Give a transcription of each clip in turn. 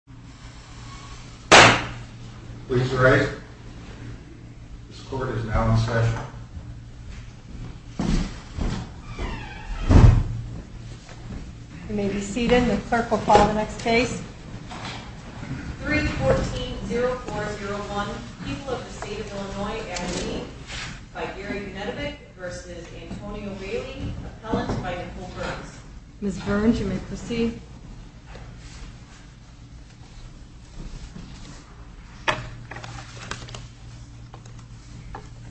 314-0401 People of the State of Illinois and Me by Gary Gnedevich v. Antonio Bailey, Appellant by Nicole Burns Ms. Burns, you may proceed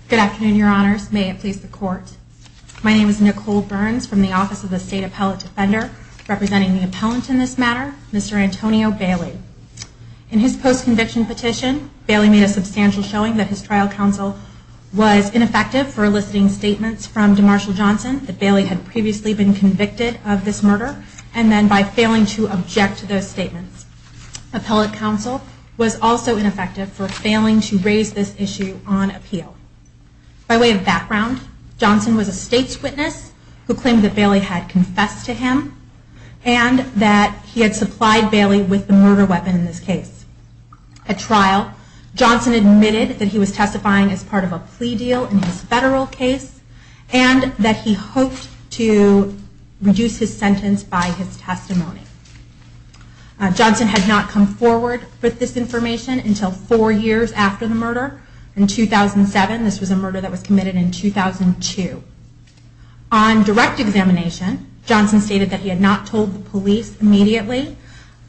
Good afternoon, your honors. May it please the court. My name is Nicole Burns from the Office of the State Appellate Defender. Representing the appellant in this matter, Mr. Antonio Bailey. In his post-conviction petition, Bailey made a substantial showing that his trial counsel was ineffective for eliciting statements from DeMarshall Johnson that Bailey had previously been convicted of this murder and then by failing to object to those statements. Appellate counsel was also ineffective for failing to raise this issue on appeal. By way of background, Johnson was a state's witness who claimed that Bailey had confessed to him and that he had supplied Bailey with the murder weapon in this case. At trial, Johnson admitted that he was testifying as part of a plea deal in his federal case and that he hoped to reduce his sentence by his testimony. Johnson had not come forward with this information until four years after the murder in 2007. This was a murder that was committed in 2002. On direct examination, Johnson stated that he had not told the police immediately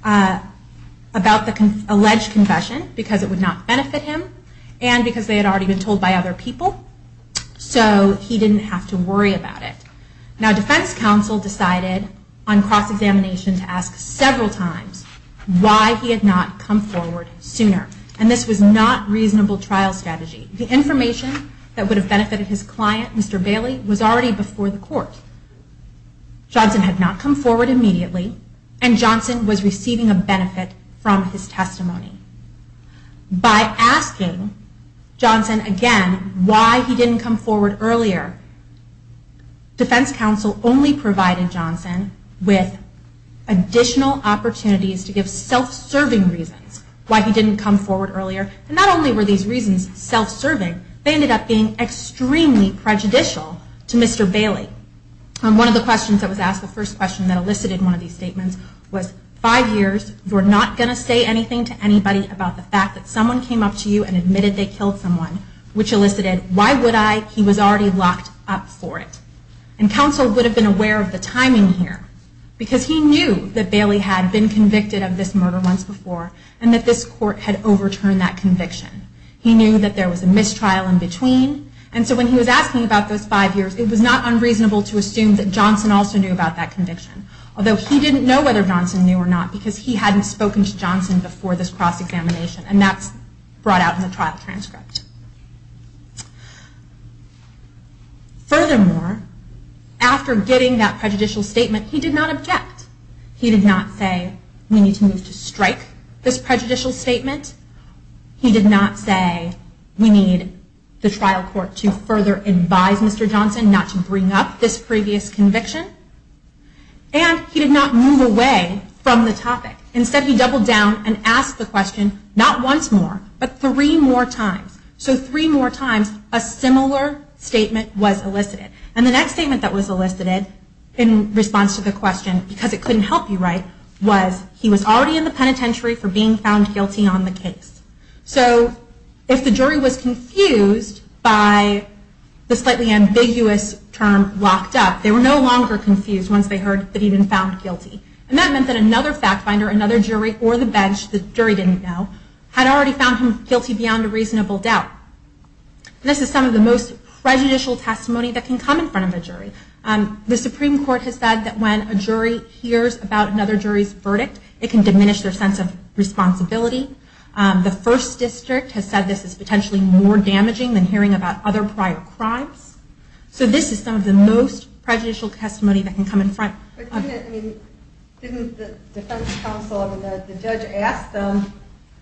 about the alleged confession because it would not benefit him and because they had already been told by other people. So he didn't have to worry about it. Now defense counsel decided on cross-examination to ask several times why he had not come forward sooner. And this was not reasonable trial strategy. The information that would have benefited his client, Mr. Bailey, was already before the court. Johnson had not come forward immediately and Johnson was receiving a benefit from his testimony. By asking Johnson again why he didn't come forward earlier, defense counsel only provided Johnson with additional opportunities to give self-serving reasons why he didn't come forward earlier. And not only were these reasons self-serving, they ended up being extremely prejudicial to Mr. Bailey. One of the questions that was asked, the first question that elicited one of these statements was, five years, you're not going to say anything to anybody about the fact that someone came up to you and admitted they killed someone, which elicited, why would I? He was already locked up for it. And counsel would have been aware of the timing here because he knew that Bailey had been convicted of this murder once before and that this court had overturned that conviction. He knew that there was a mistrial in between and so when he was asking about those five years, it was not unreasonable to assume that Johnson also knew about that conviction. Although he didn't know whether Johnson knew or not because he hadn't spoken to Johnson before this cross-examination and that's brought out in the trial transcript. Furthermore, after getting that prejudicial statement, he did not object. He did not say, we need to strike this prejudicial statement. He did not say, we need the trial court to further advise Mr. Johnson not to bring up this previous conviction. And he did not move away from the topic. Instead, he doubled down and asked the question, not once more, but three more times. So three more times, a similar statement was elicited. And the next statement that was elicited in response to the question, because it couldn't help you write, was he was already in the penitentiary for being found guilty on the case. So if the jury was confused by the slightly ambiguous term locked up, they were no longer confused once they heard that he'd been found guilty. And that meant that another fact finder, another jury, or the bench, the jury didn't know, had already found him guilty beyond a reasonable doubt. This is some of the most prejudicial testimony that can come in front of a jury. The Supreme Court has said that when a jury hears about another jury's verdict, it can diminish their sense of responsibility. The First District has said this is potentially more damaging than hearing about other prior crimes. So this is some of the most prejudicial testimony that can come in front. Didn't the defense counsel, the judge, ask them,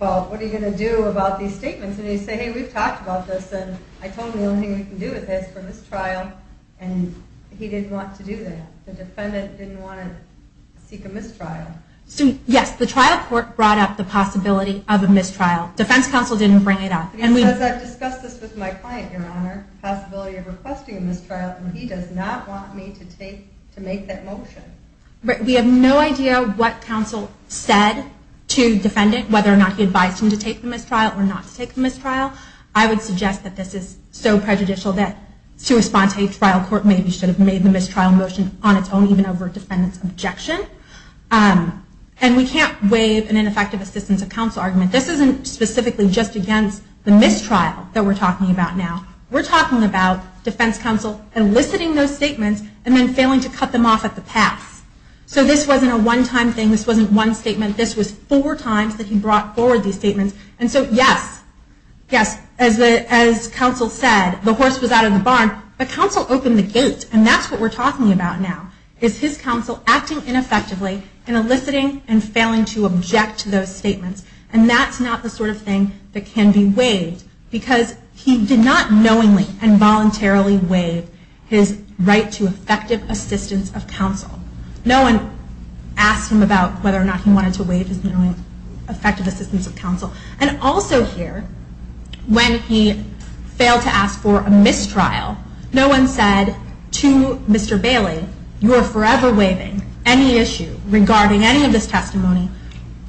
well, what are you going to do about these statements? And you say, hey, we've talked about this, and I told them the only thing we can do with this is for this trial, and he didn't want to do that. The defendant didn't want to seek a mistrial. Yes, the trial court brought up the possibility of a mistrial. Defense counsel didn't bring it up. He says, I've discussed this with my client, Your Honor, the possibility of requesting a mistrial, and he does not want me to make that motion. We have no idea what counsel said to defendant, whether or not he advised him to take the mistrial or not to take the mistrial. I would suggest that this is so prejudicial that to respond to a trial court, maybe you should have made the mistrial motion on its own, even over a defendant's objection. And we can't waive an ineffective assistance of counsel argument. This isn't specifically just against the mistrial that we're talking about now. We're talking about defense counsel eliciting those statements and then failing to cut them off at the pass. So this wasn't a one-time thing. This wasn't one statement. This was four times that he brought forward these statements. And so, yes, yes, as counsel said, the horse was out of the barn, but counsel opened the gate. And that's what we're talking about now, is his counsel acting ineffectively and eliciting and failing to object to those statements. And that's not the sort of thing that can be waived, because he did not knowingly and voluntarily waive his right to effective assistance of counsel. No one asked him about whether or not he wanted to waive his knowingly effective assistance of counsel. And also here, when he failed to ask for a mistrial, no one said to Mr. Bailey, you are forever waiving any issue regarding any of this testimony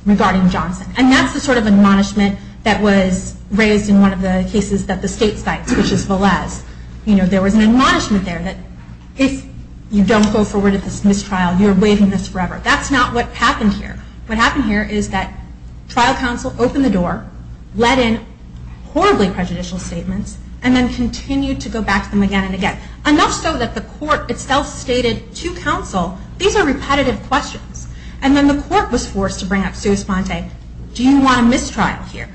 regarding Johnson. And that's the sort of admonishment that was raised in one of the cases that the state cited, which is Velez. There was an admonishment there that if you don't go forward with this mistrial, you're waiving this forever. That's not what happened here. What happened here is that trial counsel opened the door, let in horribly prejudicial statements, and then continued to go back to them again and again. Enough so that the court itself stated to counsel, these are repetitive questions. And then the court was forced to bring up Sue Esponte, do you want a mistrial here?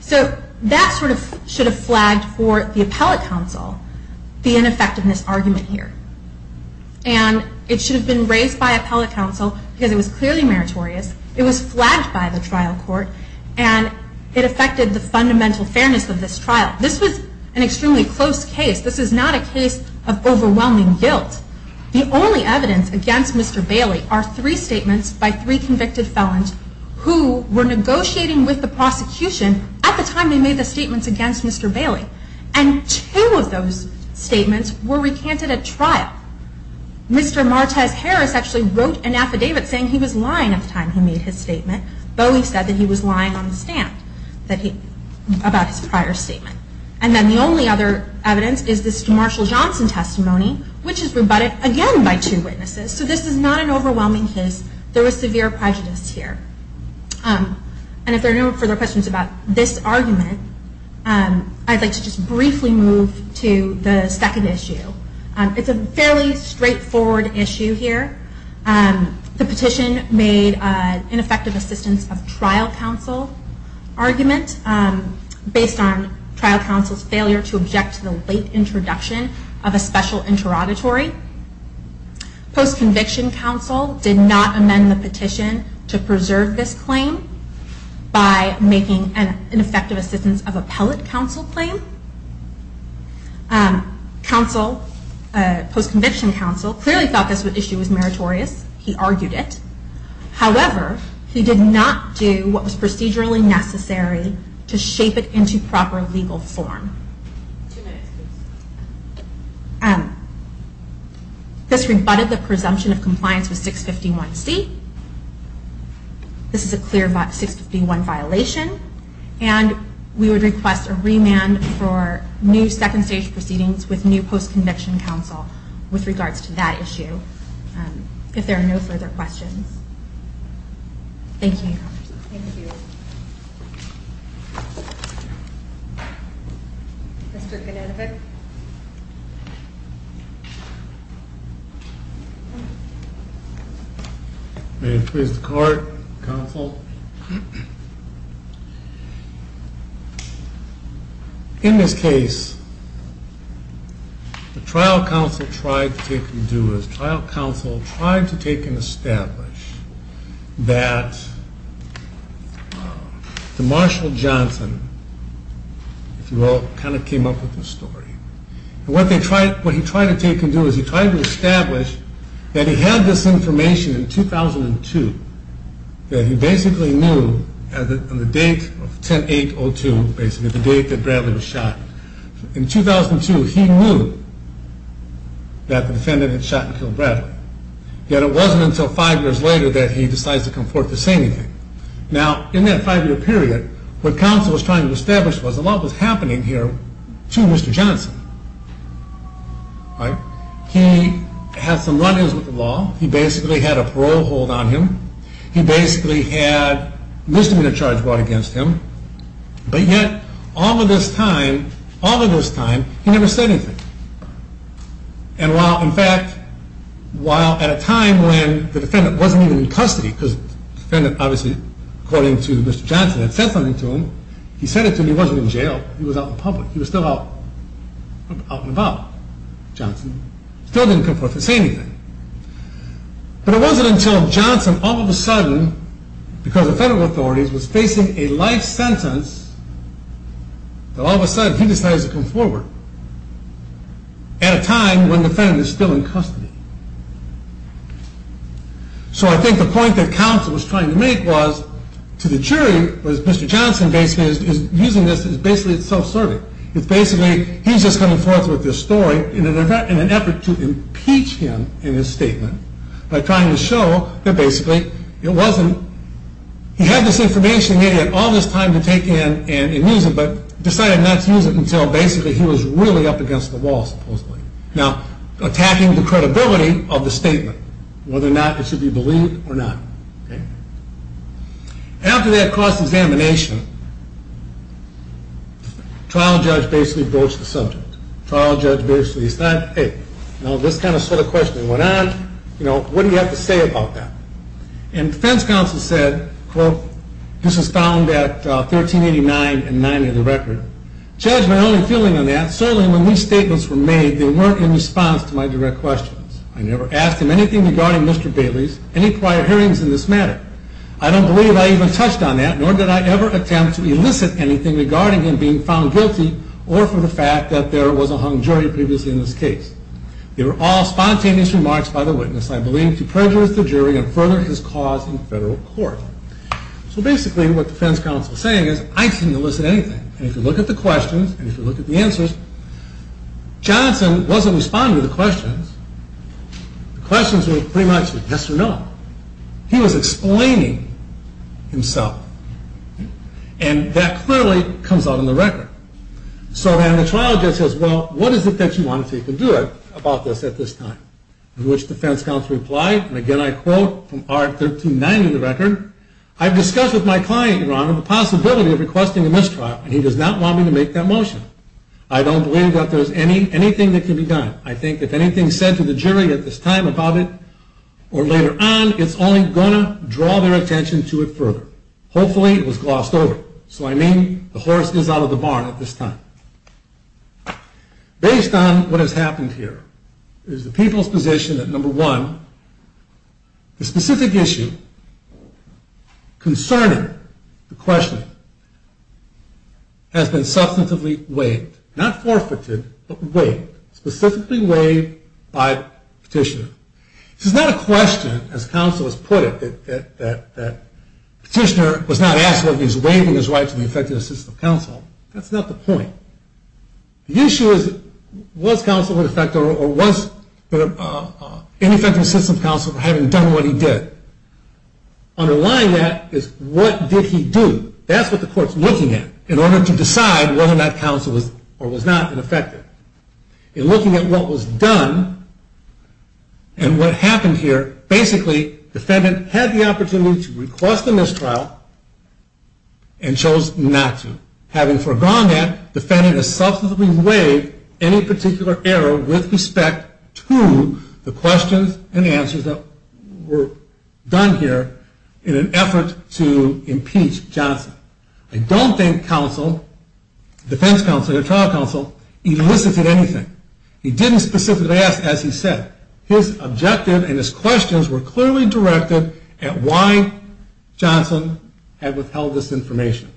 So that sort of should have flagged for the appellate counsel the ineffectiveness argument here. And it should have been raised by appellate counsel because it was clearly meritorious. It was flagged by the trial court, and it affected the fundamental fairness of this trial. This was an extremely close case. This is not a case of overwhelming guilt. The only evidence against Mr. Bailey are three statements by three convicted felons who were negotiating with the prosecution at the time they made the statements against Mr. Bailey. And two of those statements were recanted at trial. Mr. Martez Harris actually wrote an affidavit saying he was lying at the time he made his statement. Bowie said that he was lying on the stand about his prior statement. And then the only other evidence is this Marshall Johnson testimony, which is rebutted again by two witnesses. So this is not an overwhelming case. There was severe prejudice here. And if there are no further questions about this argument, I'd like to just briefly move to the second issue. It's a fairly straightforward issue here. The petition made an ineffective assistance of trial counsel argument based on trial counsel's failure to object to the late introduction of a special interrogatory. Post-conviction counsel did not amend the petition to preserve this claim by making an ineffective assistance of appellate counsel claim. Post-conviction counsel clearly thought this issue was meritorious. He argued it. However, he did not do what was procedurally necessary to shape it into proper legal form. Two minutes, please. This rebutted the presumption of compliance with 651C. This is a clear 651 violation. And we would request a remand for new second-stage proceedings with new post-conviction counsel with regards to that issue, if there are no further questions. Thank you. Thank you. Mr. Konenovic. May it please the Court, counsel. In this case, the trial counsel tried to take and do is trial counsel tried to take and establish that the Marshall Johnson, if you will, kind of came up with this story. And what he tried to take and do is he tried to establish that he had this information in 2002 that he basically knew on the date of 10-8-02, basically the date that Bradley was shot. In 2002, he knew that the defendant had shot and killed Bradley. Yet it wasn't until five years later that he decides to come forth to say anything. Now, in that five-year period, what counsel was trying to establish was a lot was happening here to Mr. Johnson. He had some run-ins with the law. He basically had a parole hold on him. He basically had misdemeanor charge brought against him. But yet, all of this time, all of this time, he never said anything. And while, in fact, while at a time when the defendant wasn't even in custody, because the defendant obviously, according to Mr. Johnson, had said something to him. He said it to him. He wasn't in jail. He was out in public. He was still out and about. Johnson still didn't come forth to say anything. But it wasn't until Johnson, all of a sudden, because of federal authorities, was facing a life sentence that all of a sudden he decides to come forward at a time when the defendant is still in custody. So I think the point that counsel was trying to make was to the jury, was Mr. Johnson basically is using this as basically self-serving. It's basically he's just coming forth with this story in an effort to impeach him in his statement by trying to show that basically it wasn't. He had this information he had all this time to take in and use it, but decided not to use it until basically he was really up against the wall, supposedly. Now, attacking the credibility of the statement, whether or not it should be believed or not. After that cross-examination, trial judge basically broached the subject. Trial judge basically said, hey, this kind of question went on. What do you have to say about that? And defense counsel said, quote, this was found at 1389 and 90 of the record. Judge, my only feeling on that, certainly when these statements were made, they weren't in response to my direct questions. I never asked him anything regarding Mr. Bailey's, any prior hearings in this matter. I don't believe I even touched on that, nor did I ever attempt to elicit anything regarding him being found guilty or for the fact that there was a hung jury previously in this case. They were all spontaneous remarks by the witness, I believe, to prejudice the jury and further his cause in federal court. So basically what defense counsel is saying is I didn't elicit anything. And if you look at the questions and if you look at the answers, Johnson wasn't responding to the questions. The questions were pretty much yes or no. He was explaining himself. And that clearly comes out in the record. So then the trial judge says, well, what is it that you want to do about this at this time? To which defense counsel replied, and again I quote from 1390 of the record, I've discussed with my client, Your Honor, the possibility of requesting a mistrial, and he does not want me to make that motion. I don't believe that there's anything that can be done. I think if anything is said to the jury at this time about it or later on, it's only going to draw their attention to it further. Hopefully it was glossed over. So I mean the horse is out of the barn at this time. Based on what has happened here is the people's position that, number one, the specific issue concerning the questioning has been substantively waived, not forfeited, but waived, specifically waived by petitioner. This is not a question, as counsel has put it, that petitioner was not asked whether he was waiving his right to the effective assistance of counsel. That's not the point. The issue is, was counsel ineffective or was ineffective assistance of counsel for having done what he did? Underlying that is, what did he do? That's what the court's looking at in order to decide whether or not counsel was or was not ineffective. In looking at what was done and what happened here, basically defendant had the opportunity to request the mistrial and chose not to. Having forgone that, defendant has substantively waived any particular error with respect to the questions and answers that were done here in an effort to impeach Johnson. I don't think counsel, defense counsel or trial counsel, elicited anything. He didn't specifically ask, as he said. His objective and his questions were clearly directed at why Johnson had withheld this information.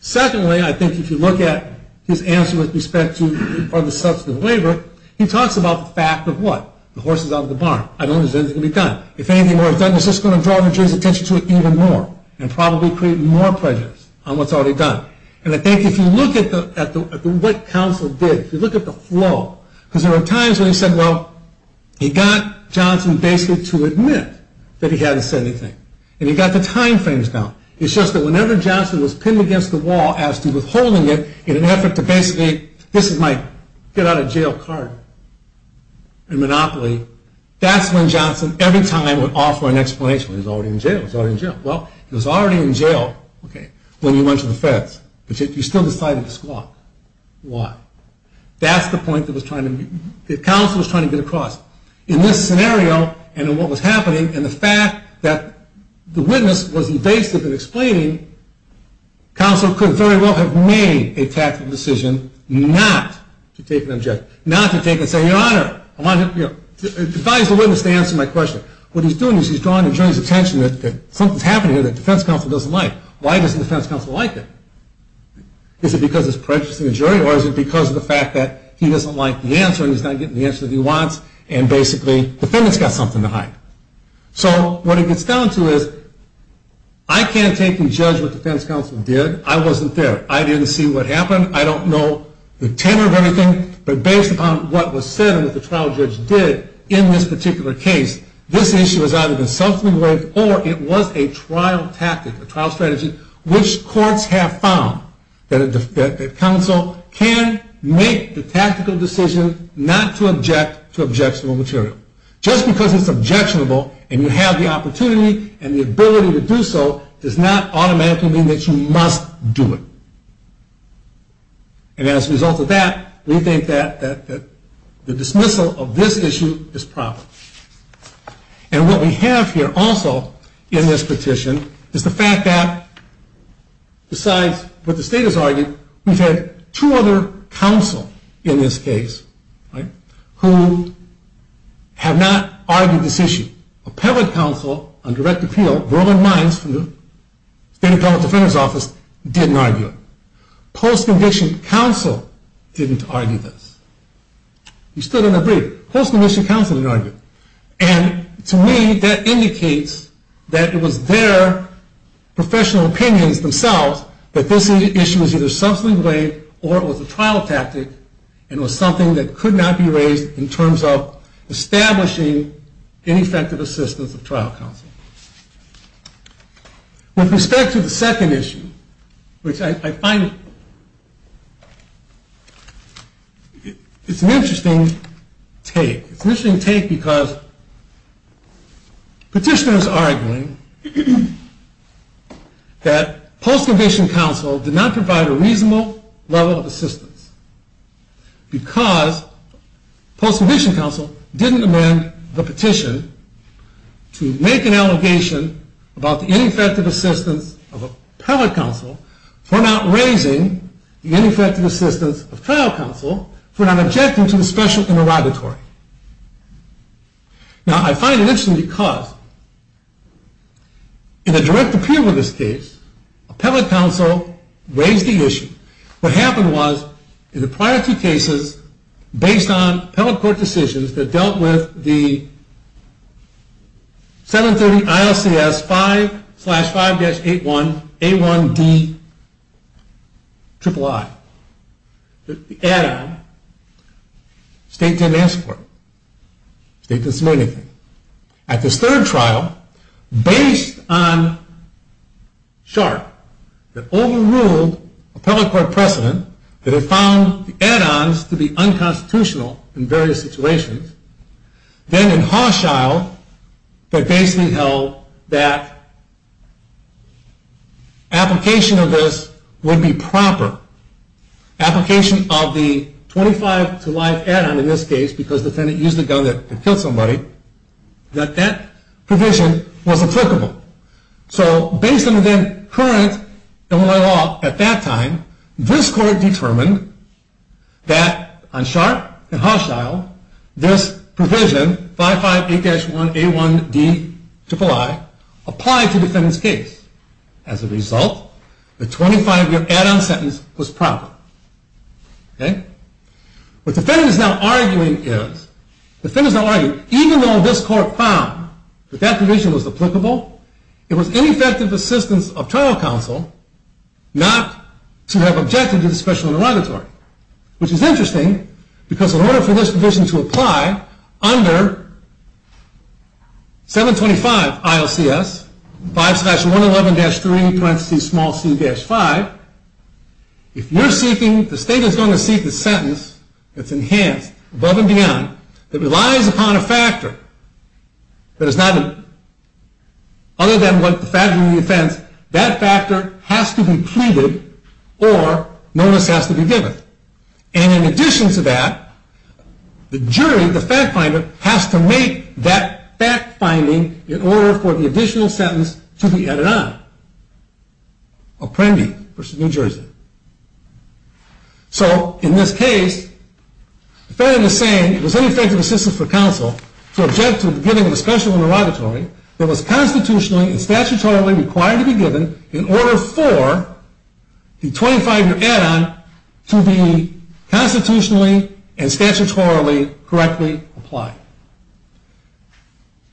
Secondly, I think if you look at his answer with respect to the substantive waiver, he talks about the fact of what? The horse is out of the barn. I don't think anything can be done. If anything were done, it's just going to draw the jury's attention to it even more and probably create more prejudice on what's already done. And I think if you look at what counsel did, if you look at the flow, because there were times when he said, well, he got Johnson basically to admit that he hadn't said anything. And he got the time frames down. It's just that whenever Johnson was pinned against the wall as to withholding it in an effort to basically, this is my get out of jail card and monopoly, that's when Johnson every time would offer an explanation. He's already in jail. He's already in jail. Well, he was already in jail when he went to the feds, but he still decided to squawk. Why? That's the point that counsel was trying to get across. In this scenario and in what was happening and the fact that the witness was evasive in explaining, counsel could very well have made a tactical decision not to take an objection, not to take and say, Your Honor, I want to advise the witness to answer my question. What he's doing is he's drawing the jury's attention that something's happening here that defense counsel doesn't like. Why doesn't defense counsel like it? Is it because it's prejudiced in the jury or is it because of the fact that he doesn't like the answer and he's not getting the answer that he wants and basically the defendant's got something to hide. So what it gets down to is I can't take and judge what defense counsel did. I wasn't there. I didn't see what happened. I don't know the tenor of everything, but based upon what was said and what the trial judge did in this particular case, this issue has either been self-examined or it was a trial tactic, a trial strategy, which courts have found that counsel can make the tactical decision not to object to objectionable material. Just because it's objectionable and you have the opportunity and the ability to do so does not automatically mean that you must do it. And as a result of that, we think that the dismissal of this issue is proper. And what we have here also in this petition is the fact that besides what the state has argued, we've had two other counsel in this case who have not argued this issue. Appellate counsel on direct appeal, Verland Mines from the State Appellate Defender's Office, didn't argue it. Post-conviction counsel didn't argue this. He stood in a brief. Post-conviction counsel didn't argue it. And to me, that indicates that it was their professional opinions themselves that this issue was either self-examined or it was a trial tactic and was something that could not be raised in terms of establishing ineffective assistance of trial counsel. With respect to the second issue, which I find it's an interesting take. It's an interesting take because petitioners are arguing that post-conviction counsel did not provide a reasonable level of assistance because post-conviction counsel didn't amend the petition to make an allegation about the ineffective assistance of appellate counsel for not raising the ineffective assistance of trial counsel for not objecting to the special interrogatory. Now, I find it interesting because in a direct appeal in this case, appellate counsel raised the issue. What happened was, in the prior two cases, based on appellate court decisions that dealt with the 730 ILCS 5-5-81 A1D III, the add-on, state didn't ask for it. State didn't say anything. At this third trial, based on SHARP, that overruled appellate court precedent, that it found the add-ons to be unconstitutional in various situations, then in Hochschild, that basically held that application of this would be proper. Application of the 25-to-life add-on in this case, because the defendant used the gun to kill somebody, that that provision was applicable. So, based on the current Illinois law at that time, this court determined that on SHARP and Hochschild, this provision, 5-5-81 A1D III, applied to the defendant's case. As a result, the 25-year add-on sentence was proper. Okay? What the defendant is now arguing is, the defendant is now arguing, even though this court found that that provision was applicable, it was ineffective assistance of trial counsel not to have objected to the special interrogatory. Which is interesting, because in order for this provision to apply under 725 ILCS, 5-111-3-c-5, if you're seeking, the state is going to seek the sentence that's enhanced, above and beyond, that relies upon a factor that is not, other than what the factoring of the offense, that factor has to be pleaded or notice has to be given. And in addition to that, the jury, the fact finder, has to make that fact finding in order for the additional sentence to be added on. Apprendi versus New Jersey. So, in this case, the defendant is saying it was ineffective assistance for counsel to object to the beginning of the special interrogatory that was constitutionally and statutorily required to be given, in order for the 25-year add-on to be constitutionally and statutorily correctly applied.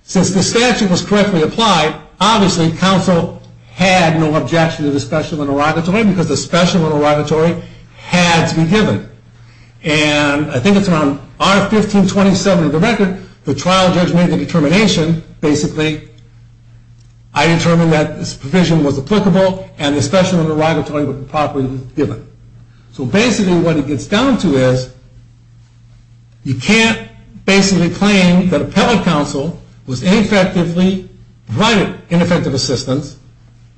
Since the statute was correctly applied, obviously counsel had no objection to the special interrogatory, because the special interrogatory had to be given. And I think it's around R-1527 of the record, the trial judge made the determination, basically, I determined that this provision was applicable, and the special interrogatory was properly given. So basically what it gets down to is, you can't basically claim that appellate counsel was ineffectively providing ineffective assistance,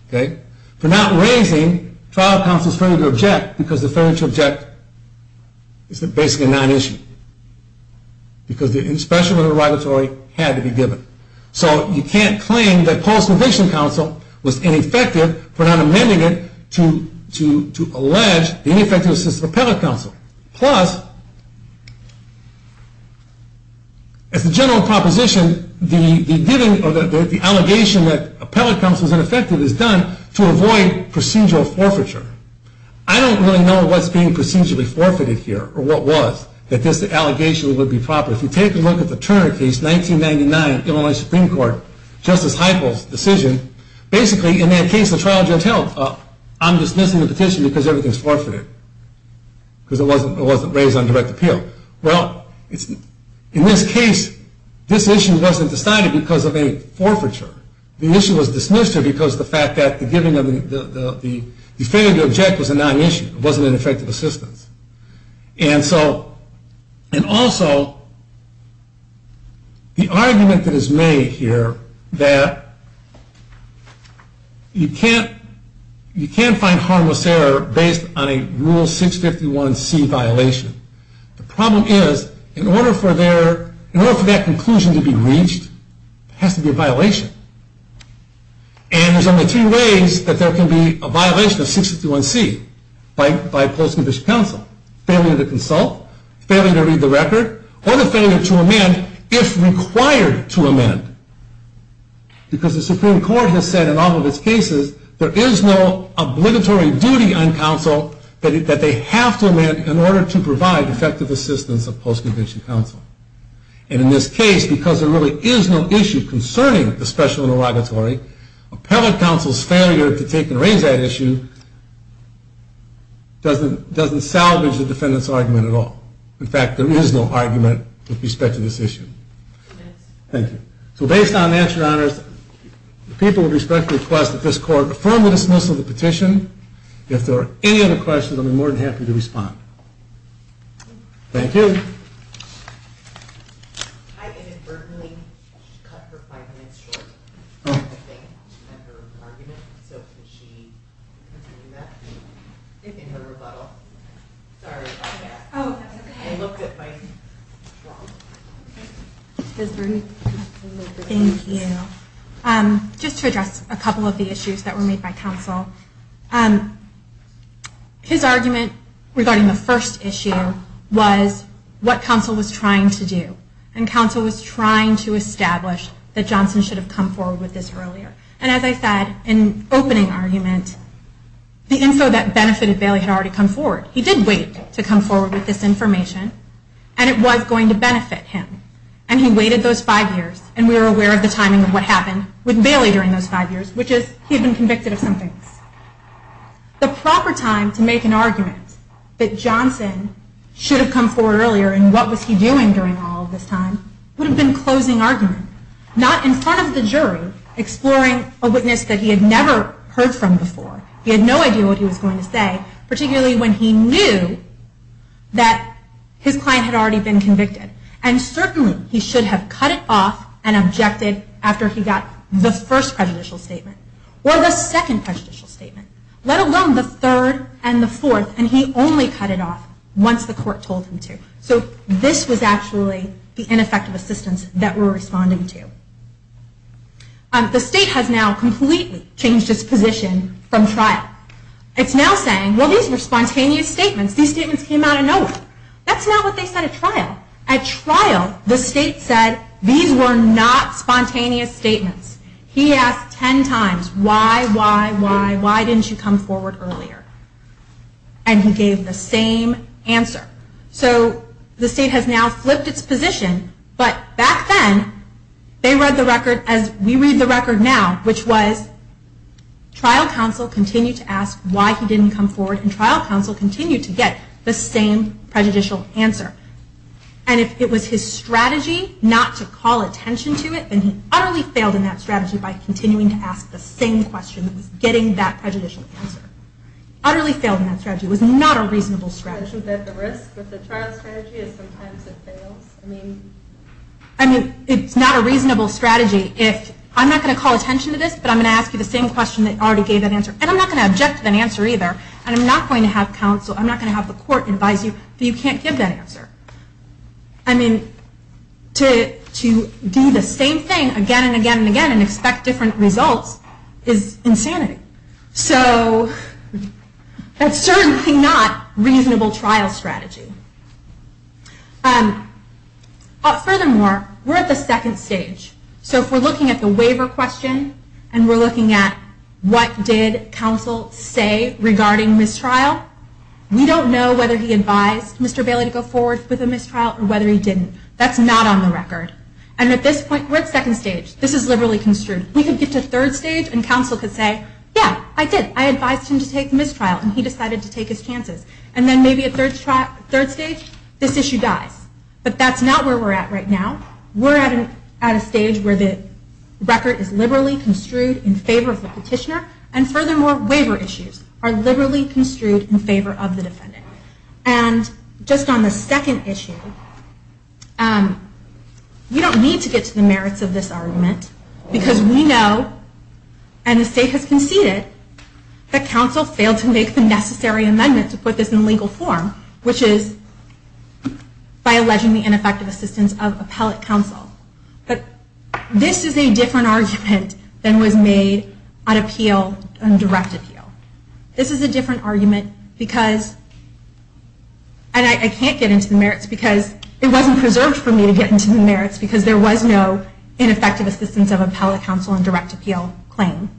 for not raising trial counsel's failure to object, because the failure to object is basically a non-issue. Because the special interrogatory had to be given. So you can't claim that post-conviction counsel was ineffective, for not amending it to allege the ineffective assistance of appellate counsel. Plus, as a general proposition, the allegation that appellate counsel is ineffective is done to avoid procedural forfeiture. I don't really know what's being procedurally forfeited here, or what was, that this allegation would be proper. If you take a look at the Turner case, 1999, Illinois Supreme Court, Justice Heichel's decision, basically, in that case, the trial judge held, I'm dismissing the petition because everything's forfeited. Because it wasn't raised on direct appeal. Well, in this case, this issue wasn't decided because of a forfeiture. The issue was dismissed here because the fact that the giving of the, the failure to object was a non-issue. It wasn't an effective assistance. And so, and also, the argument that is made here, that you can't, you can't find harmless error based on a Rule 651C violation. The problem is, in order for their, in order for that conclusion to be reached, it has to be a violation. And there's only two ways that there can be a violation of 651C, by post-conviction counsel. Failure to consult, failure to read the record, or the failure to amend if required to amend. Because the Supreme Court has said in all of its cases, there is no obligatory duty on counsel that they have to amend in order to provide effective assistance of post-conviction counsel. And in this case, because there really is no issue concerning the special and obligatory, appellate counsel's failure to take and raise that issue doesn't salvage the defendant's argument at all. In fact, there is no argument with respect to this issue. Thank you. So based on that, Your Honors, the people would respectfully request that this Court affirm the dismissal of the petition. If there are any other questions, I'll be more than happy to respond. Thank you. Thank you. Just to address a couple of the issues that were made by counsel. His argument regarding the first issue was what counsel was trying to do. And counsel was trying to establish that Johnson should have come forward with this earlier. And as I said in opening argument, the info that benefited Bailey had already come forward. He did wait to come forward with this information, and it was going to benefit him. And he waited those five years, and we were aware of the timing of what happened with Bailey during those five years, which is he had been convicted of some things. The proper time to make an argument that Johnson should have come forward earlier and what was he doing during all of this time would have been closing argument. Not in front of the jury, exploring a witness that he had never heard from before. He had no idea what he was going to say, particularly when he knew that his client had already been convicted. And certainly he should have cut it off and objected after he got the first prejudicial statement or the second prejudicial statement, let alone the third and the fourth, and he only cut it off once the court told him to. So this was actually the ineffective assistance that we're responding to. The state has now completely changed its position from trial. It's now saying, well, these were spontaneous statements. These statements came out of nowhere. That's not what they said at trial. At trial, the state said, these were not spontaneous statements. He asked ten times, why, why, why, why didn't you come forward earlier? And he gave the same answer. So the state has now flipped its position, but back then, they read the record as we read the record now, which was trial counsel continued to ask why he didn't come forward, and trial counsel continued to get the same prejudicial answer. And if it was his strategy not to call attention to it, then he utterly failed in that strategy by continuing to ask the same question that was getting that prejudicial answer. Utterly failed in that strategy. It was not a reasonable strategy. The risk with the trial strategy is sometimes it fails. I mean, it's not a reasonable strategy if I'm not going to call attention to this, but I'm going to ask you the same question that already gave that answer, and I'm not going to object to that answer either, and I'm not going to have counsel, I'm not going to have the court advise you that you can't give that answer. I mean, to do the same thing again and again and again and expect different results is insanity. So that's certainly not a reasonable trial strategy. Furthermore, we're at the second stage. So if we're looking at the waiver question, and we're looking at what did counsel say regarding mistrial, we don't know whether he advised Mr. Bailey to go forward with a mistrial or whether he didn't. That's not on the record. And at this point, we're at second stage. This is liberally construed. We could get to third stage, and counsel could say, yeah, I did, I advised him to take the mistrial, and he decided to take his chances. And then maybe at third stage, this issue dies. But that's not where we're at right now. We're at a stage where the record is liberally construed in favor of the petitioner. And furthermore, waiver issues are liberally construed in favor of the defendant. And just on the second issue, we don't need to get to the merits of this argument, because we know, and the state has conceded, that counsel failed to make the necessary amendment to put this in legal form, which is by alleging the ineffective assistance of appellate counsel. But this is a different argument than was made on appeal, on direct appeal. This is a different argument, because, and I can't get into the merits, because it wasn't preserved for me to get into the merits, because there was no ineffective assistance of appellate counsel on direct appeal claim.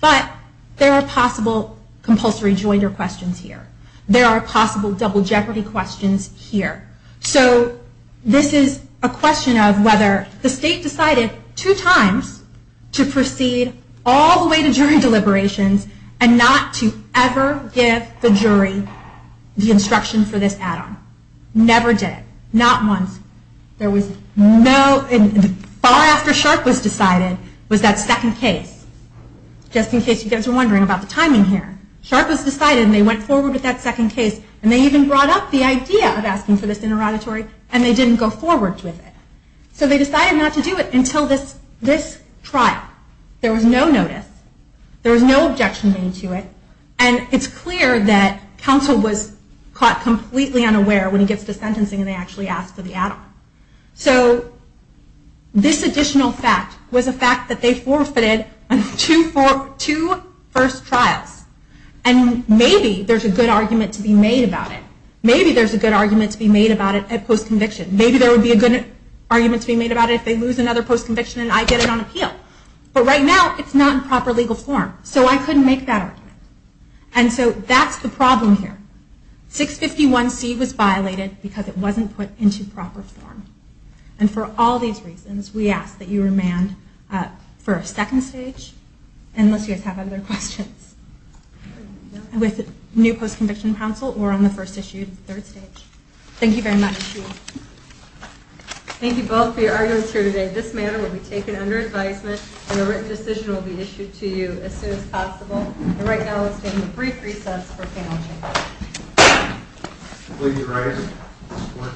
But there are possible compulsory jointer questions here. There are possible double jeopardy questions here. So this is a question of whether the state decided two times to proceed all the way to jury deliberations and not to ever give the jury the instruction for this add-on. Never did. Not once. There was no, far after Sharpe was decided, was that second case. Just in case you guys are wondering about the timing here. Sharpe was decided, and they went forward with that second case. And they even brought up the idea of asking for this interrogatory, and they didn't go forward with it. So they decided not to do it until this trial. There was no notice. There was no objection made to it. And it's clear that counsel was caught completely unaware when he gets to sentencing, and they actually asked for the add-on. So this additional fact was a fact that they forfeited on two first trials. And maybe there's a good argument to be made about it. Maybe there's a good argument to be made about it at post-conviction. Maybe there would be a good argument to be made about it if they lose another post-conviction, and I get it on appeal. But right now, it's not in proper legal form. So I couldn't make that argument. And so that's the problem here. 651C was violated because it wasn't put into proper form. And for all these reasons, we ask that you remand for a second stage, unless you guys have other questions. With new post-conviction counsel, we're on the first issue, third stage. Thank you very much. Thank you both for your arguments here today. This matter will be taken under advisement, and a written decision will be issued to you as soon as possible. And right now, let's take a brief recess for panel discussion. Will you rise for a standing recess? Thank you.